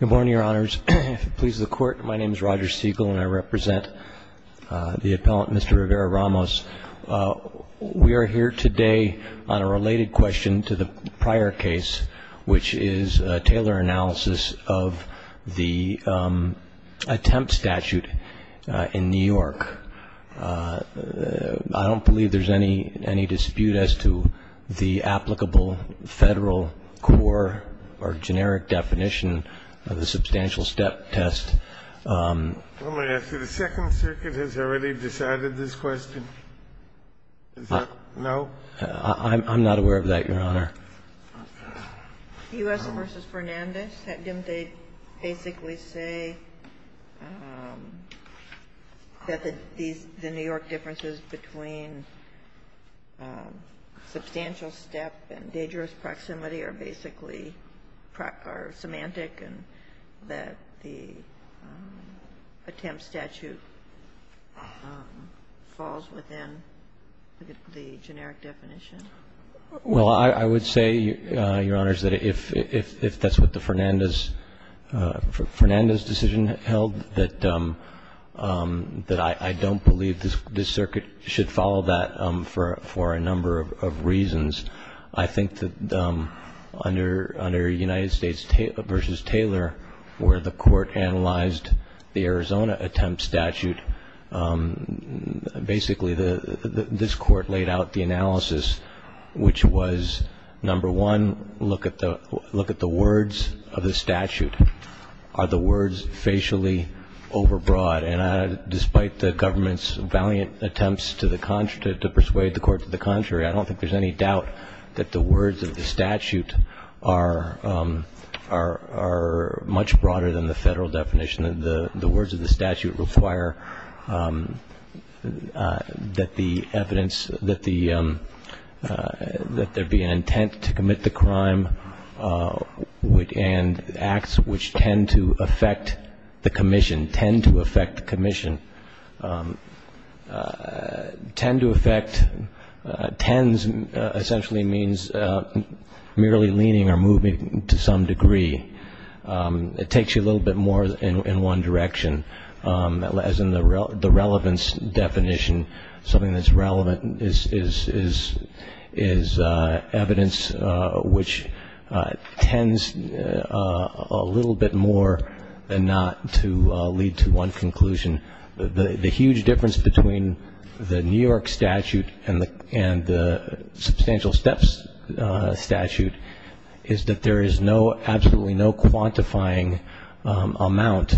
Good morning, your honors. Please the court. My name is Roger Siegel and I represent the appellant, Mr. Rivera-Ramos. We are here today on a related question to the prior case, which is a Taylor analysis of the attempt statute in New York. I don't believe there's any dispute as to the applicable Federal core or generic definition of the substantial step test. I'm going to ask you, the Second Circuit has already decided this question? Is that no? I'm not aware of that, your honor. U.S. v. Fernandez, didn't they basically say that the New York differences between substantial step and dangerous proximity are basically semantic and that the attempt statute falls within the generic definition? Well, I would say, your honors, that if that's what the Fernandez decision held, that I don't believe this circuit should follow that for a number of reasons. I think that under United States v. Taylor, where the court analyzed the Arizona attempt statute, basically this court laid out the analysis, which was, number one, look at the words of the statute. Are the words facially overbroad? And despite the government's valiant attempts to persuade the court to the contrary, I don't think there's any doubt that the words of the statute are much broader than the Federal definition. The words of the statute require that the evidence, that there be an intent to commit the crime and acts which tend to affect the commission, tend to affect the commission, tend to affect, tends essentially means merely leaning or moving to some degree. It takes you a little bit more in one direction. As in the relevance definition, something that's relevant is evidence which tends a little bit more than not to lead to one conclusion. The huge difference between the New York statute and the substantial steps statute is that there is no, absolutely no quantifying amount,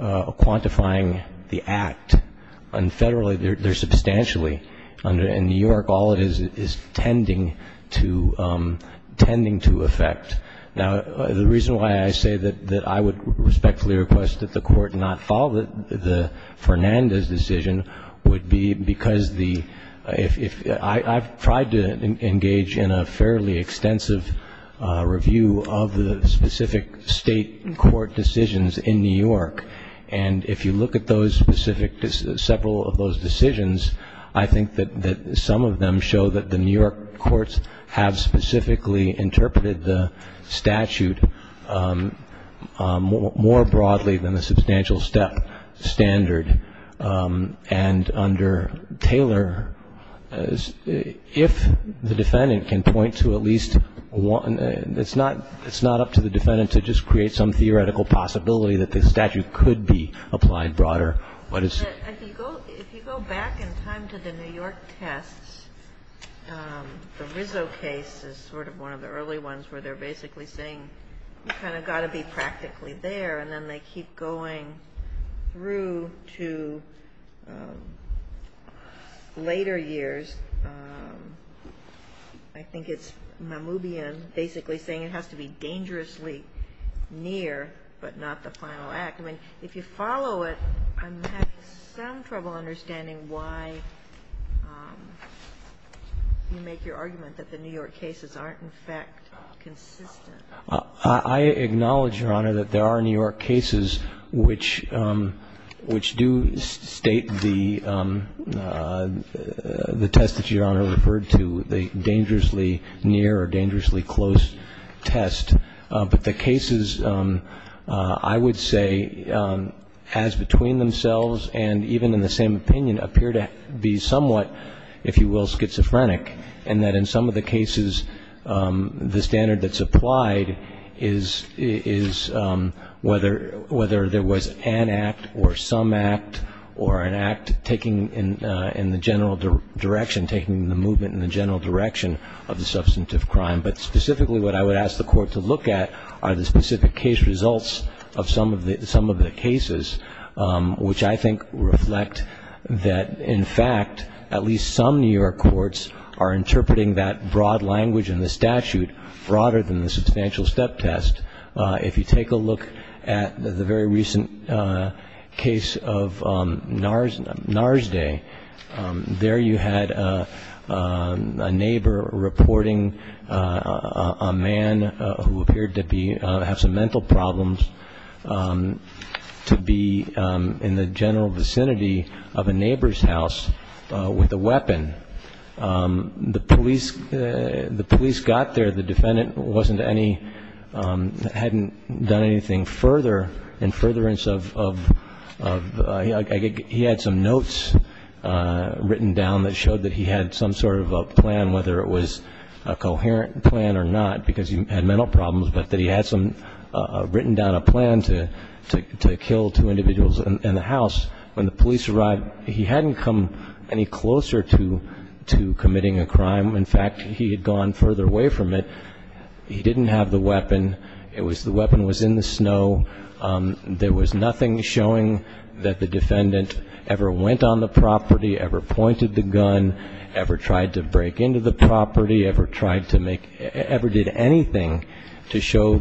quantifying the act. And federally, there's substantially. In New York, all it is is tending to affect. Now, the reason why I say that I would respectfully request that the court not follow the Fernandez decision would be because the, I've tried to engage in a fairly extensive review of the specific state court decisions in New York. And if you look at those specific, several of those decisions, I think that some of them show that the New York courts have specifically interpreted the statute more broadly than the substantial step standard. And under Taylor, if the defendant can point to at least one, it's not up to the defendant to just create some theoretical possibility that the statute could be applied broader. If you go back in time to the New York tests, the Rizzo case is sort of one of the early ones where they're basically saying, you've kind of got to be practically there. And then they keep going through to later years. I think it's Mamoubian basically saying it has to be dangerously near, but not the final act. I mean, if you follow it, I'm having some trouble understanding why you make your argument that the New York cases aren't in fact consistent. I acknowledge, Your Honor, that there are New York cases which do state the test that Your Honor referred to, the dangerously near or dangerously close test. But the cases, I would say, as between themselves and even in the same opinion, appear to be somewhat, if you will, schizophrenic, in that in some of the cases the standard that's applied is whether there was an act or some act or an act taking in the general direction, taking the movement in the general direction of the substantive crime. But specifically what I would ask the Court to look at are the specific case results of some of the cases, which I think reflect that, in fact, at least some New York courts are interpreting that broad language in the statute broader than the substantial step test. If you take a look at the very recent case of Narsday, there you had a neighbor reporting a man who appeared to have some mental problems to be in the general vicinity of a neighbor's house with a weapon. The police got there. The defendant wasn't any, hadn't done anything further in furtherance of, he had some notes written down that showed that he had some sort of a plan, whether it was a coherent plan or not, because he had mental problems, but that he had some, written down a plan to kill two individuals in the house. When the police arrived, he hadn't come any closer to committing a crime. In fact, he had gone further away from it. He didn't have the weapon. The weapon was in the snow. There was nothing showing that the defendant ever went on the property, ever pointed the gun, ever tried to break into the property, ever did anything to show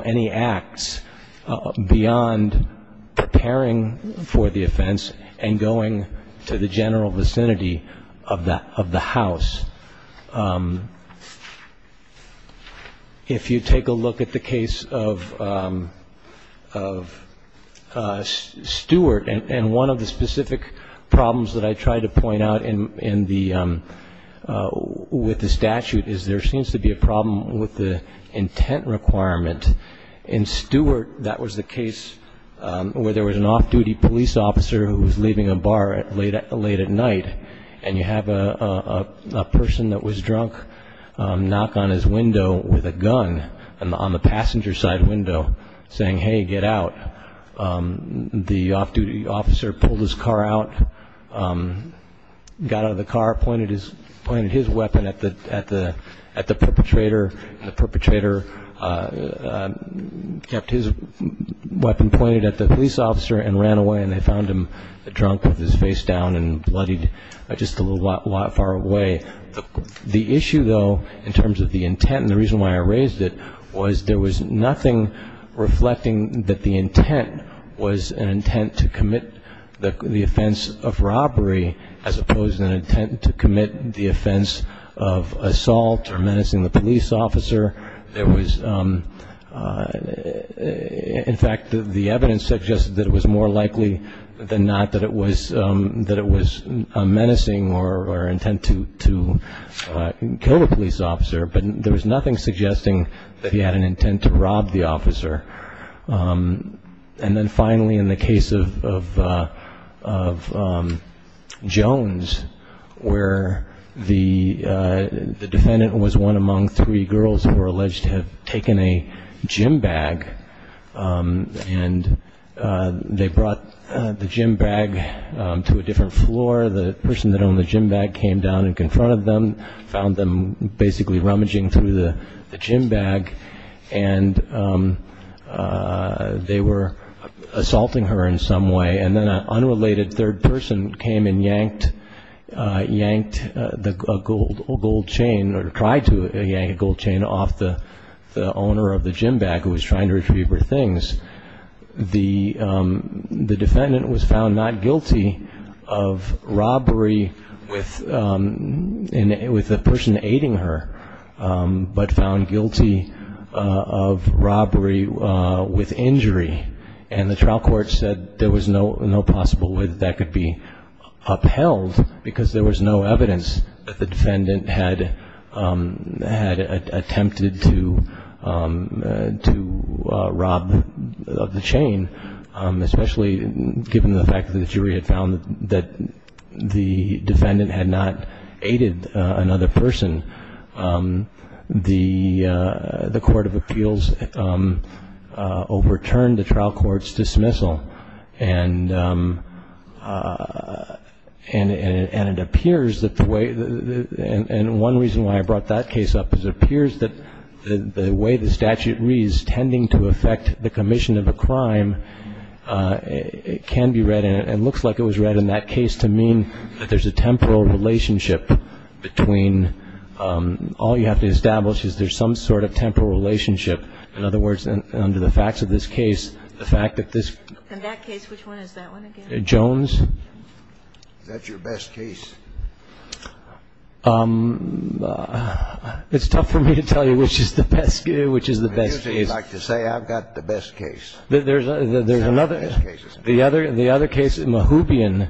any acts beyond preparing for the offense and going to the general vicinity of the house. If you take a look at the case of Stewart, and one of the specific problems that I tried to point out with the statute is there seems to be a problem with the intent requirement. In Stewart, that was the case where there was an off-duty police officer who was leaving a bar late at night, and you have a person that was drunk knock on his window with a gun on the passenger side window saying, hey, get out. The off-duty officer pulled his car out, got out of the car, pointed his weapon at the perpetrator, and the perpetrator kept his weapon pointed at the police officer and ran away, and they found him drunk with his face down and bloodied just a little while far away. The issue, though, in terms of the intent and the reason why I raised it was there was nothing reflecting that the intent was an intent to commit the offense of robbery as opposed to an intent to commit the offense of assault or menacing the police officer. There was, in fact, the evidence suggested that it was more likely than not that it was menacing or intent to kill a police officer, but there was nothing suggesting that he had an intent to rob the officer. And then finally, in the case of Jones, where the defendant was one among three girls who were alleged to have taken a gym bag, and they brought the gym bag to a different floor. The person that owned the gym bag came down and confronted them, found them basically rummaging through the gym bag, and they were assaulting her in some way, and then an unrelated third person came and yanked a gold chain, or tried to yank a gold chain off the owner of the gym bag who was trying to retrieve her things. The defendant was found not guilty of robbery with an intent to commit the offense of robbery, with the person aiding her, but found guilty of robbery with injury. And the trial court said there was no possible way that that could be upheld, because there was no evidence that the defendant had attempted to rob the chain, especially given the fact that the jury had found that the defendant had not aided another person. The court of appeals overturned the trial court's dismissal, and it appears that the way, and one reason why I brought that case up, is it appears that the way the statute reads, tending to affect the commission of a crime, it can be read, and it looks like it was read in that case, to mean that there's a temporal relationship between, all you have to establish is there's some sort of temporal relationship. In other words, under the facts of this case, the fact that this... In that case, which one is that one again? Jones. That's your best case. It's tough for me to tell you which is the best case. I usually like to say I've got the best case. There's another. The other case, Mahubian,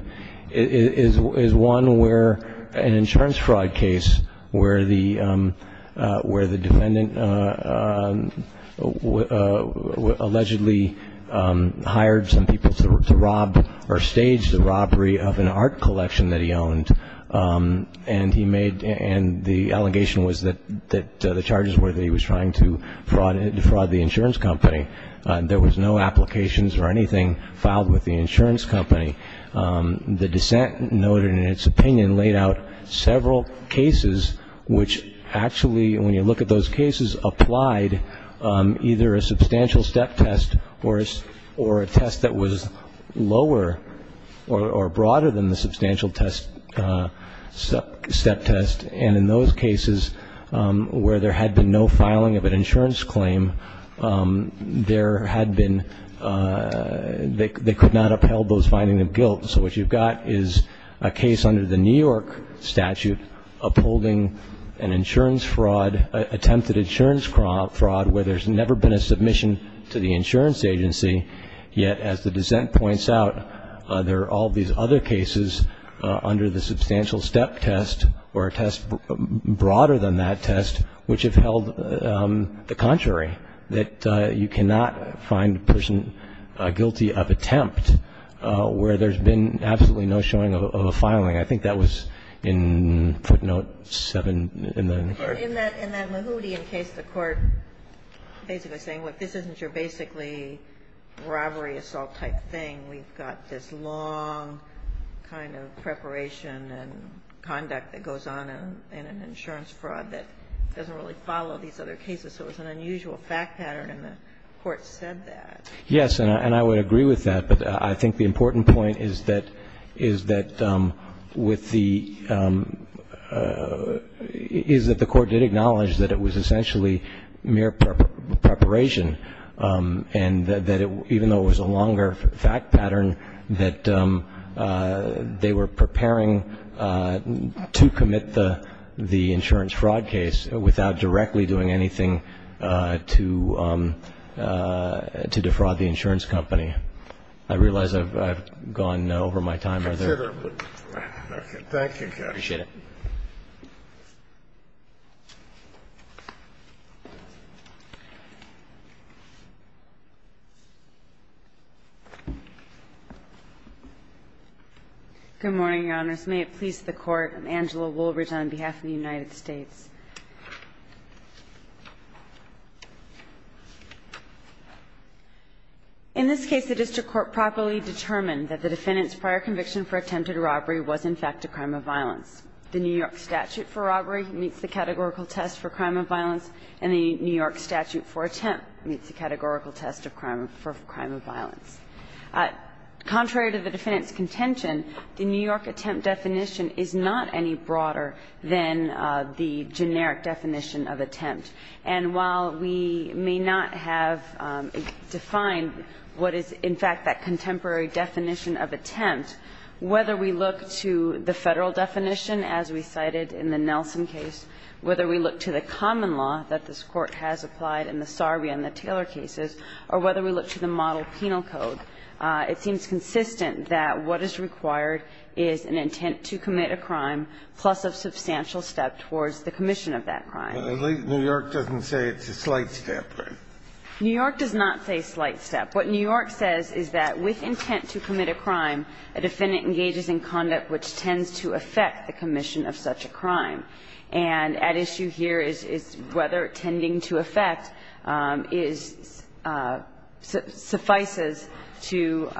is one where an insurance fraud case where the defendant allegedly hired some people to rob or stage the robbery of an art collection that he owned, and the allegation was that the charges were that he was trying to defraud the insurance company. There was no applications or anything filed with the insurance company. The dissent noted in its opinion laid out several cases which actually, when you look at those cases, applied either a substantial step test or a test that was lower or broader than the substantial step test, and in those cases where there had been no filing of an insurance claim, there had been, they could not upheld those findings of guilt. So what you've got is a case under the New York statute upholding an insurance fraud, attempted insurance fraud where there's never been a submission to the insurance agency, yet as the dissent points out, there are all these other cases under the substantial step test or a test broader than that test which have held the contrary, that you cannot find a person guilty of attempt where there's been absolutely no showing of a filing. I think that was in footnote 7 in the. In that Mahoudian case, the court basically saying, well, this isn't your basically robbery assault type thing. We've got this long kind of preparation and conduct that goes on in an insurance fraud that doesn't really follow these other cases. So it was an unusual fact pattern and the court said that. Yes, and I would agree with that, but I think the important point is that with the, is that the court did acknowledge that it was essentially mere preparation and that it, even though it was a longer fact pattern, that they were preparing to commit the insurance fraud case without directly doing anything to defraud the insurance company. I realize I've gone over my time. Thank you. Appreciate it. Good morning, Your Honors. May it please the Court. I'm Angela Woolridge on behalf of the United States. In this case, the district court properly determined that the defendant's prior conviction for attempted robbery was in fact a crime of violence. The New York statute for robbery meets the categorical test for crime of violence and the New York statute for attempt meets the categorical test for crime of violence. Contrary to the defendant's contention, the New York attempt definition is not any broader than the generic definition of attempt. And while we may not have defined what is in fact that contemporary definition of attempt, whether we look to the Federal definition as we cited in the Nelson case, whether we look to the common law that this Court has applied in the Sarbia and the Taylor cases, or whether we look to the model penal code, it seems consistent that what is required is an intent to commit a crime plus a substantial step towards the commission of that crime. New York doesn't say it's a slight step, right? New York does not say slight step. What New York says is that with intent to commit a crime, a defendant engages in conduct which tends to affect the commission of such a crime. And at issue here is whether tending to affect suffices to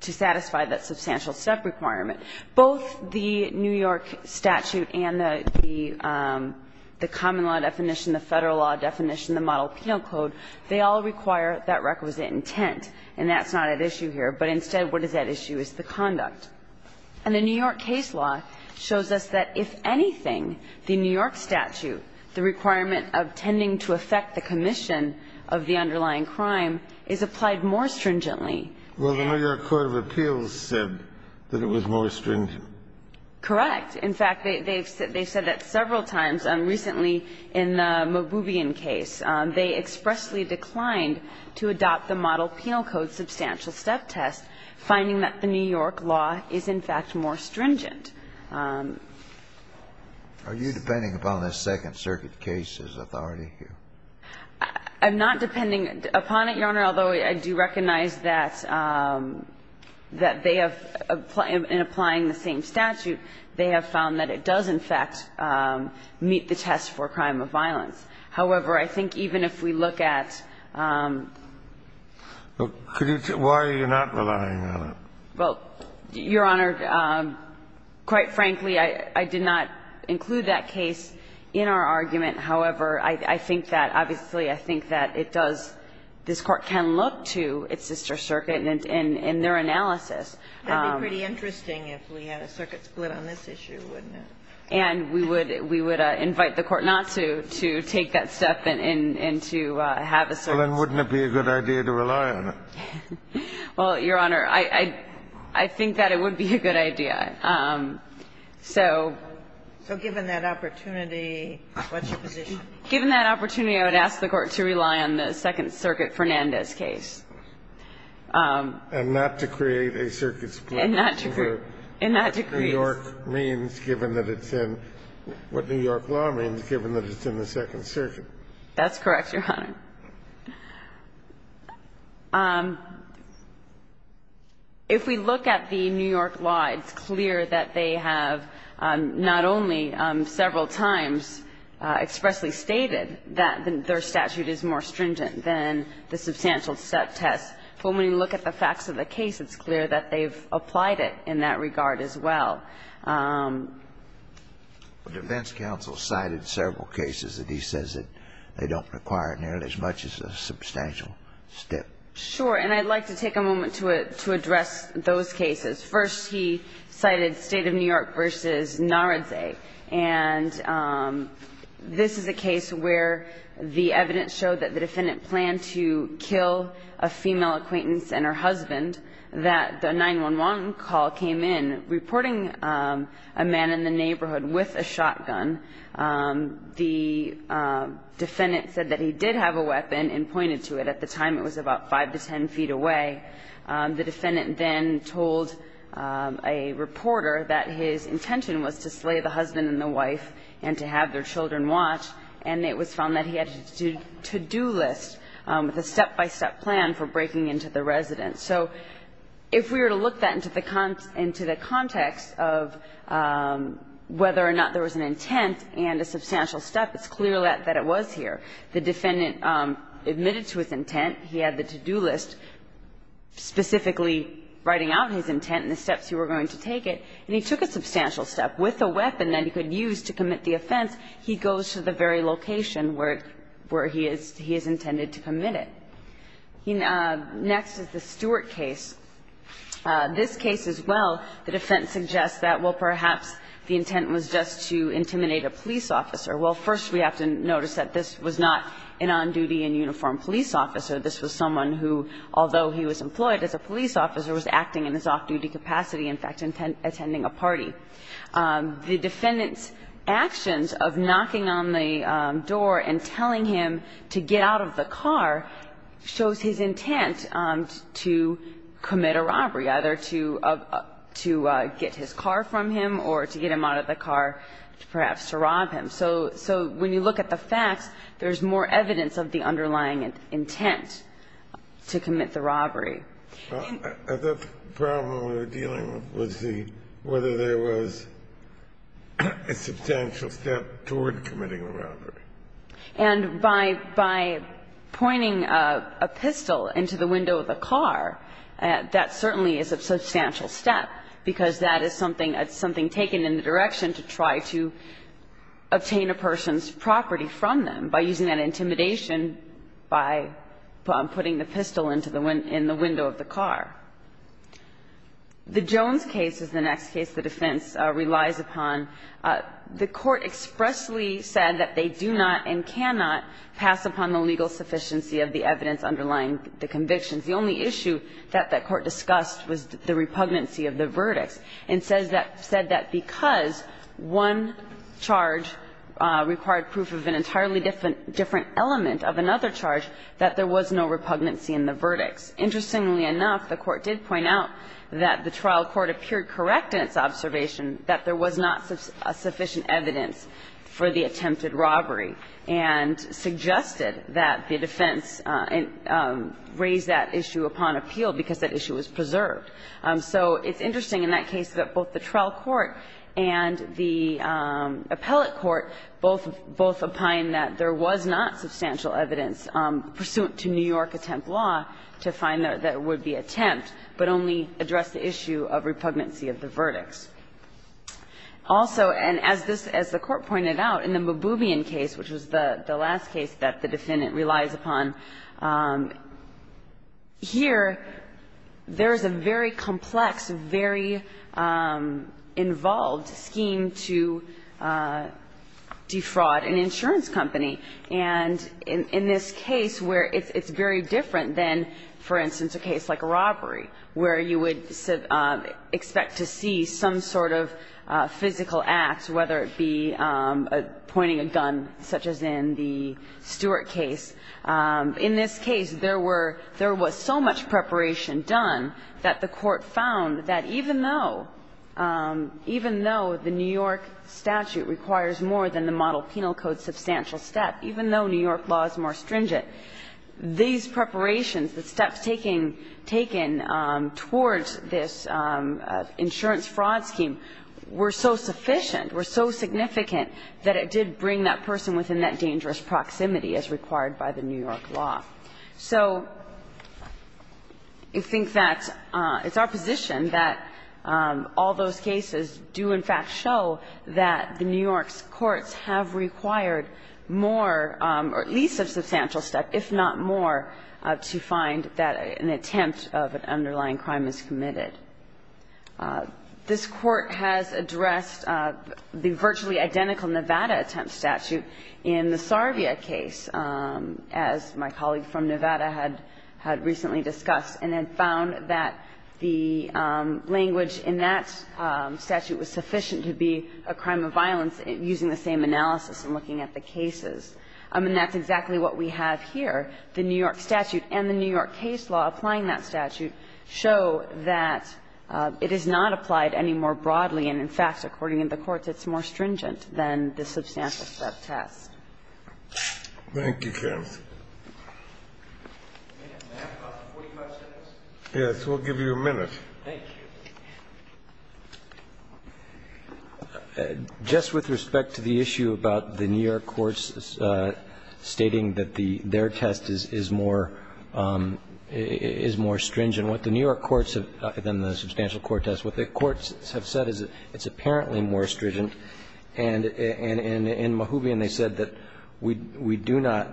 satisfy that substantial step requirement. Both the New York statute and the common law definition, the Federal law definition and the model penal code, they all require that requisite intent. And that's not at issue here. But instead, what is at issue is the conduct. And the New York case law shows us that if anything, the New York statute, the requirement of tending to affect the commission of the underlying crime, is applied more stringently. And the New York court of appeals said that it was more stringent. Correct. In fact, they've said that several times. Recently, in the Mobubian case, they expressly declined to adopt the model penal code substantial step test, finding that the New York law is, in fact, more stringent. Are you depending upon the Second Circuit case's authority here? I'm not depending upon it, Your Honor, although I do recognize that they have, in applying the same statute, they have found that it does, in fact, meet the test for a crime of violence. However, I think even if we look at the case of the New York case law, I think it's more stringent. Why are you not relying on it? Well, Your Honor, quite frankly, I did not include that case in our argument. However, I think that, obviously, I think that it does this Court can look to its sister circuit in their analysis. That would be pretty interesting if we had a circuit split on this issue, wouldn't it? And we would invite the Court not to take that step and to have a circuit. Well, then wouldn't it be a good idea to rely on it? Well, Your Honor, I think that it would be a good idea. So. So given that opportunity, what's your position? Given that opportunity, I would ask the Court to rely on the Second Circuit Fernandez case. And not to create a circuit split over what New York means given that it's in, what New York law means given that it's in the Second Circuit. That's correct, Your Honor. If we look at the New York law, it's clear that they have not only several times expressly stated that their statute is more stringent than the substantial step test. But when we look at the facts of the case, it's clear that they've applied it in that regard as well. The defense counsel cited several cases that he says that they don't require nearly as much as a substantial step. Sure. And I'd like to take a moment to address those cases. First, he cited State of New York v. Naradze. And this is a case where the evidence showed that the defendant planned to kill a female acquaintance and her husband, that the 911 call came in reporting a man in the neighborhood with a shotgun. The defendant said that he did have a weapon and pointed to it. At the time, it was about 5 to 10 feet away. The defendant then told a reporter that his intention was to slay the husband and the wife and to have their children watch. And it was found that he had a to-do list with a step-by-step plan for breaking into the residence. So if we were to look that into the context of whether or not there was an intent and a substantial step, it's clear that it was here. The defendant admitted to his intent. He had the to-do list specifically writing out his intent and the steps he were going to take it. And he took a substantial step. With a weapon that he could use to commit the offense, he goes to the very location where he is intended to commit it. Next is the Stewart case. This case as well, the defense suggests that, well, perhaps the intent was just to intimidate a police officer. Well, first we have to notice that this was not an on-duty and uniformed police officer. This was someone who, although he was employed as a police officer, was acting in his off-duty capacity, in fact, attending a party. The defendant's actions of knocking on the door and telling him to get out of the car shows his intent to commit a robbery, either to get his car from him or to get him out of the car perhaps to rob him. So when you look at the facts, there's more evidence of the underlying intent to commit the robbery. And by pointing a pistol into the window of a car, that certainly is a substantial step, because that is something that's something taken in the direction to try to obtain the intent to commit a robbery. This is another case where the defense suggests that, well, perhaps the intent was to obtain a person's property from them by using that intimidation by putting the pistol into the window of the car. The Jones case is the next case the defense relies upon. The Court expressly said that they do not and cannot pass upon the legal sufficiency of the evidence underlying the convictions. The only issue that that Court discussed was the repugnancy of the verdicts and said that because one charge required proof of an entirely different element of another charge, that there was no repugnancy in the verdicts. Interestingly enough, the Court did point out that the trial court appeared correct in its observation that there was not sufficient evidence for the attempted robbery and suggested that the defense raise that issue upon appeal because that issue was preserved. So it's interesting in that case that both the trial court and the appellate court both opined that there was not substantial evidence pursuant to New York attempt law to find that it would be attempt, but only addressed the issue of repugnancy of the verdicts. Also, and as this as the Court pointed out, in the Mububian case, which was the last case that the defendant relies upon, here there is a very complex, very involved scheme to defraud an insurance company. And in this case where it's very different than, for instance, a case like a robbery, where you would expect to see some sort of physical act, whether it be pointing a gun, such as in the Stewart case, in this case there were so much preparation done that the Court found that even though the New York statute requires more than the Model Penal Code substantial step, even though New York law is more stringent, these preparations, the steps taken towards this insurance fraud scheme were so sufficient, were so significant, that it did bring that person within that dangerous proximity as required by the New York law. So I think that it's our position that all those cases do in fact show that the New York statute requires more, if not more, to find that an attempt of an underlying crime is committed. This Court has addressed the virtually identical Nevada attempt statute in the Sarvia case, as my colleague from Nevada had recently discussed, and had found that the language in that statute was sufficient to be a crime of violence using the same analysis in looking at the cases. And that's exactly what we have here. The New York statute and the New York case law applying that statute show that it is not applied any more broadly, and in fact, according to the courts, it's more stringent than the substantial step test. Thank you, Karen. Yes, we'll give you a minute. Just with respect to the issue about the New York courts stating that their test is more stringent, what the New York courts have said, not the substantial court test, what the courts have said is it's apparently more stringent. And in Mahubian, they said that we do not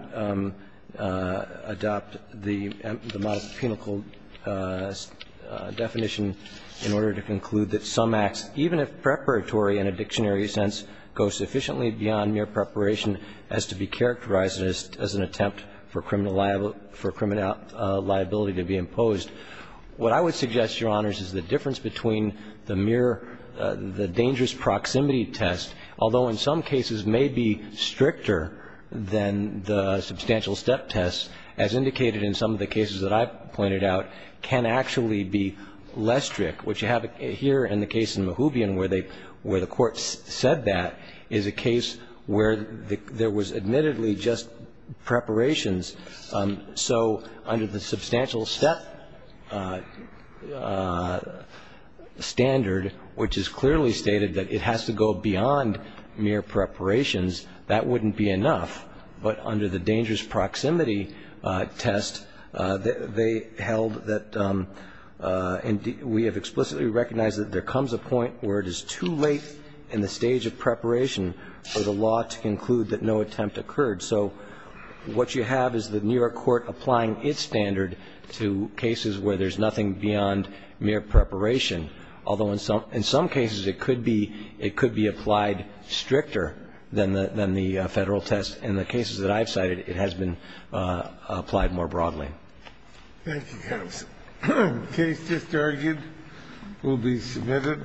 adopt the modifical definition in order to conclude that some acts, even if preparatory in a dictionary sense, go sufficiently beyond mere preparation as to be characterized as an attempt for criminal liability to be imposed. What I would suggest, Your Honors, is the difference between the mere, the dangerous proximity test, although in some cases may be stricter than the substantial step test, as indicated in some of the cases that I pointed out, can actually be less strict. What you have here in the case in Mahubian where they, where the courts said that is a case where there was admittedly just preparations. So under the substantial step standard, which is clearly stated that it has to go beyond mere preparations, that wouldn't be enough. But under the dangerous proximity test, they held that we have explicitly recognized that there comes a point where it is too late in the stage of preparation for the law to conclude that no attempt occurred. So what you have is the New York court applying its standard to cases where there's nothing beyond mere preparation, although in some cases it could be, it could be applied stricter than the Federal test. In the cases that I've cited, it has been applied more broadly. Thank you, counsel. The case just argued will be submitted.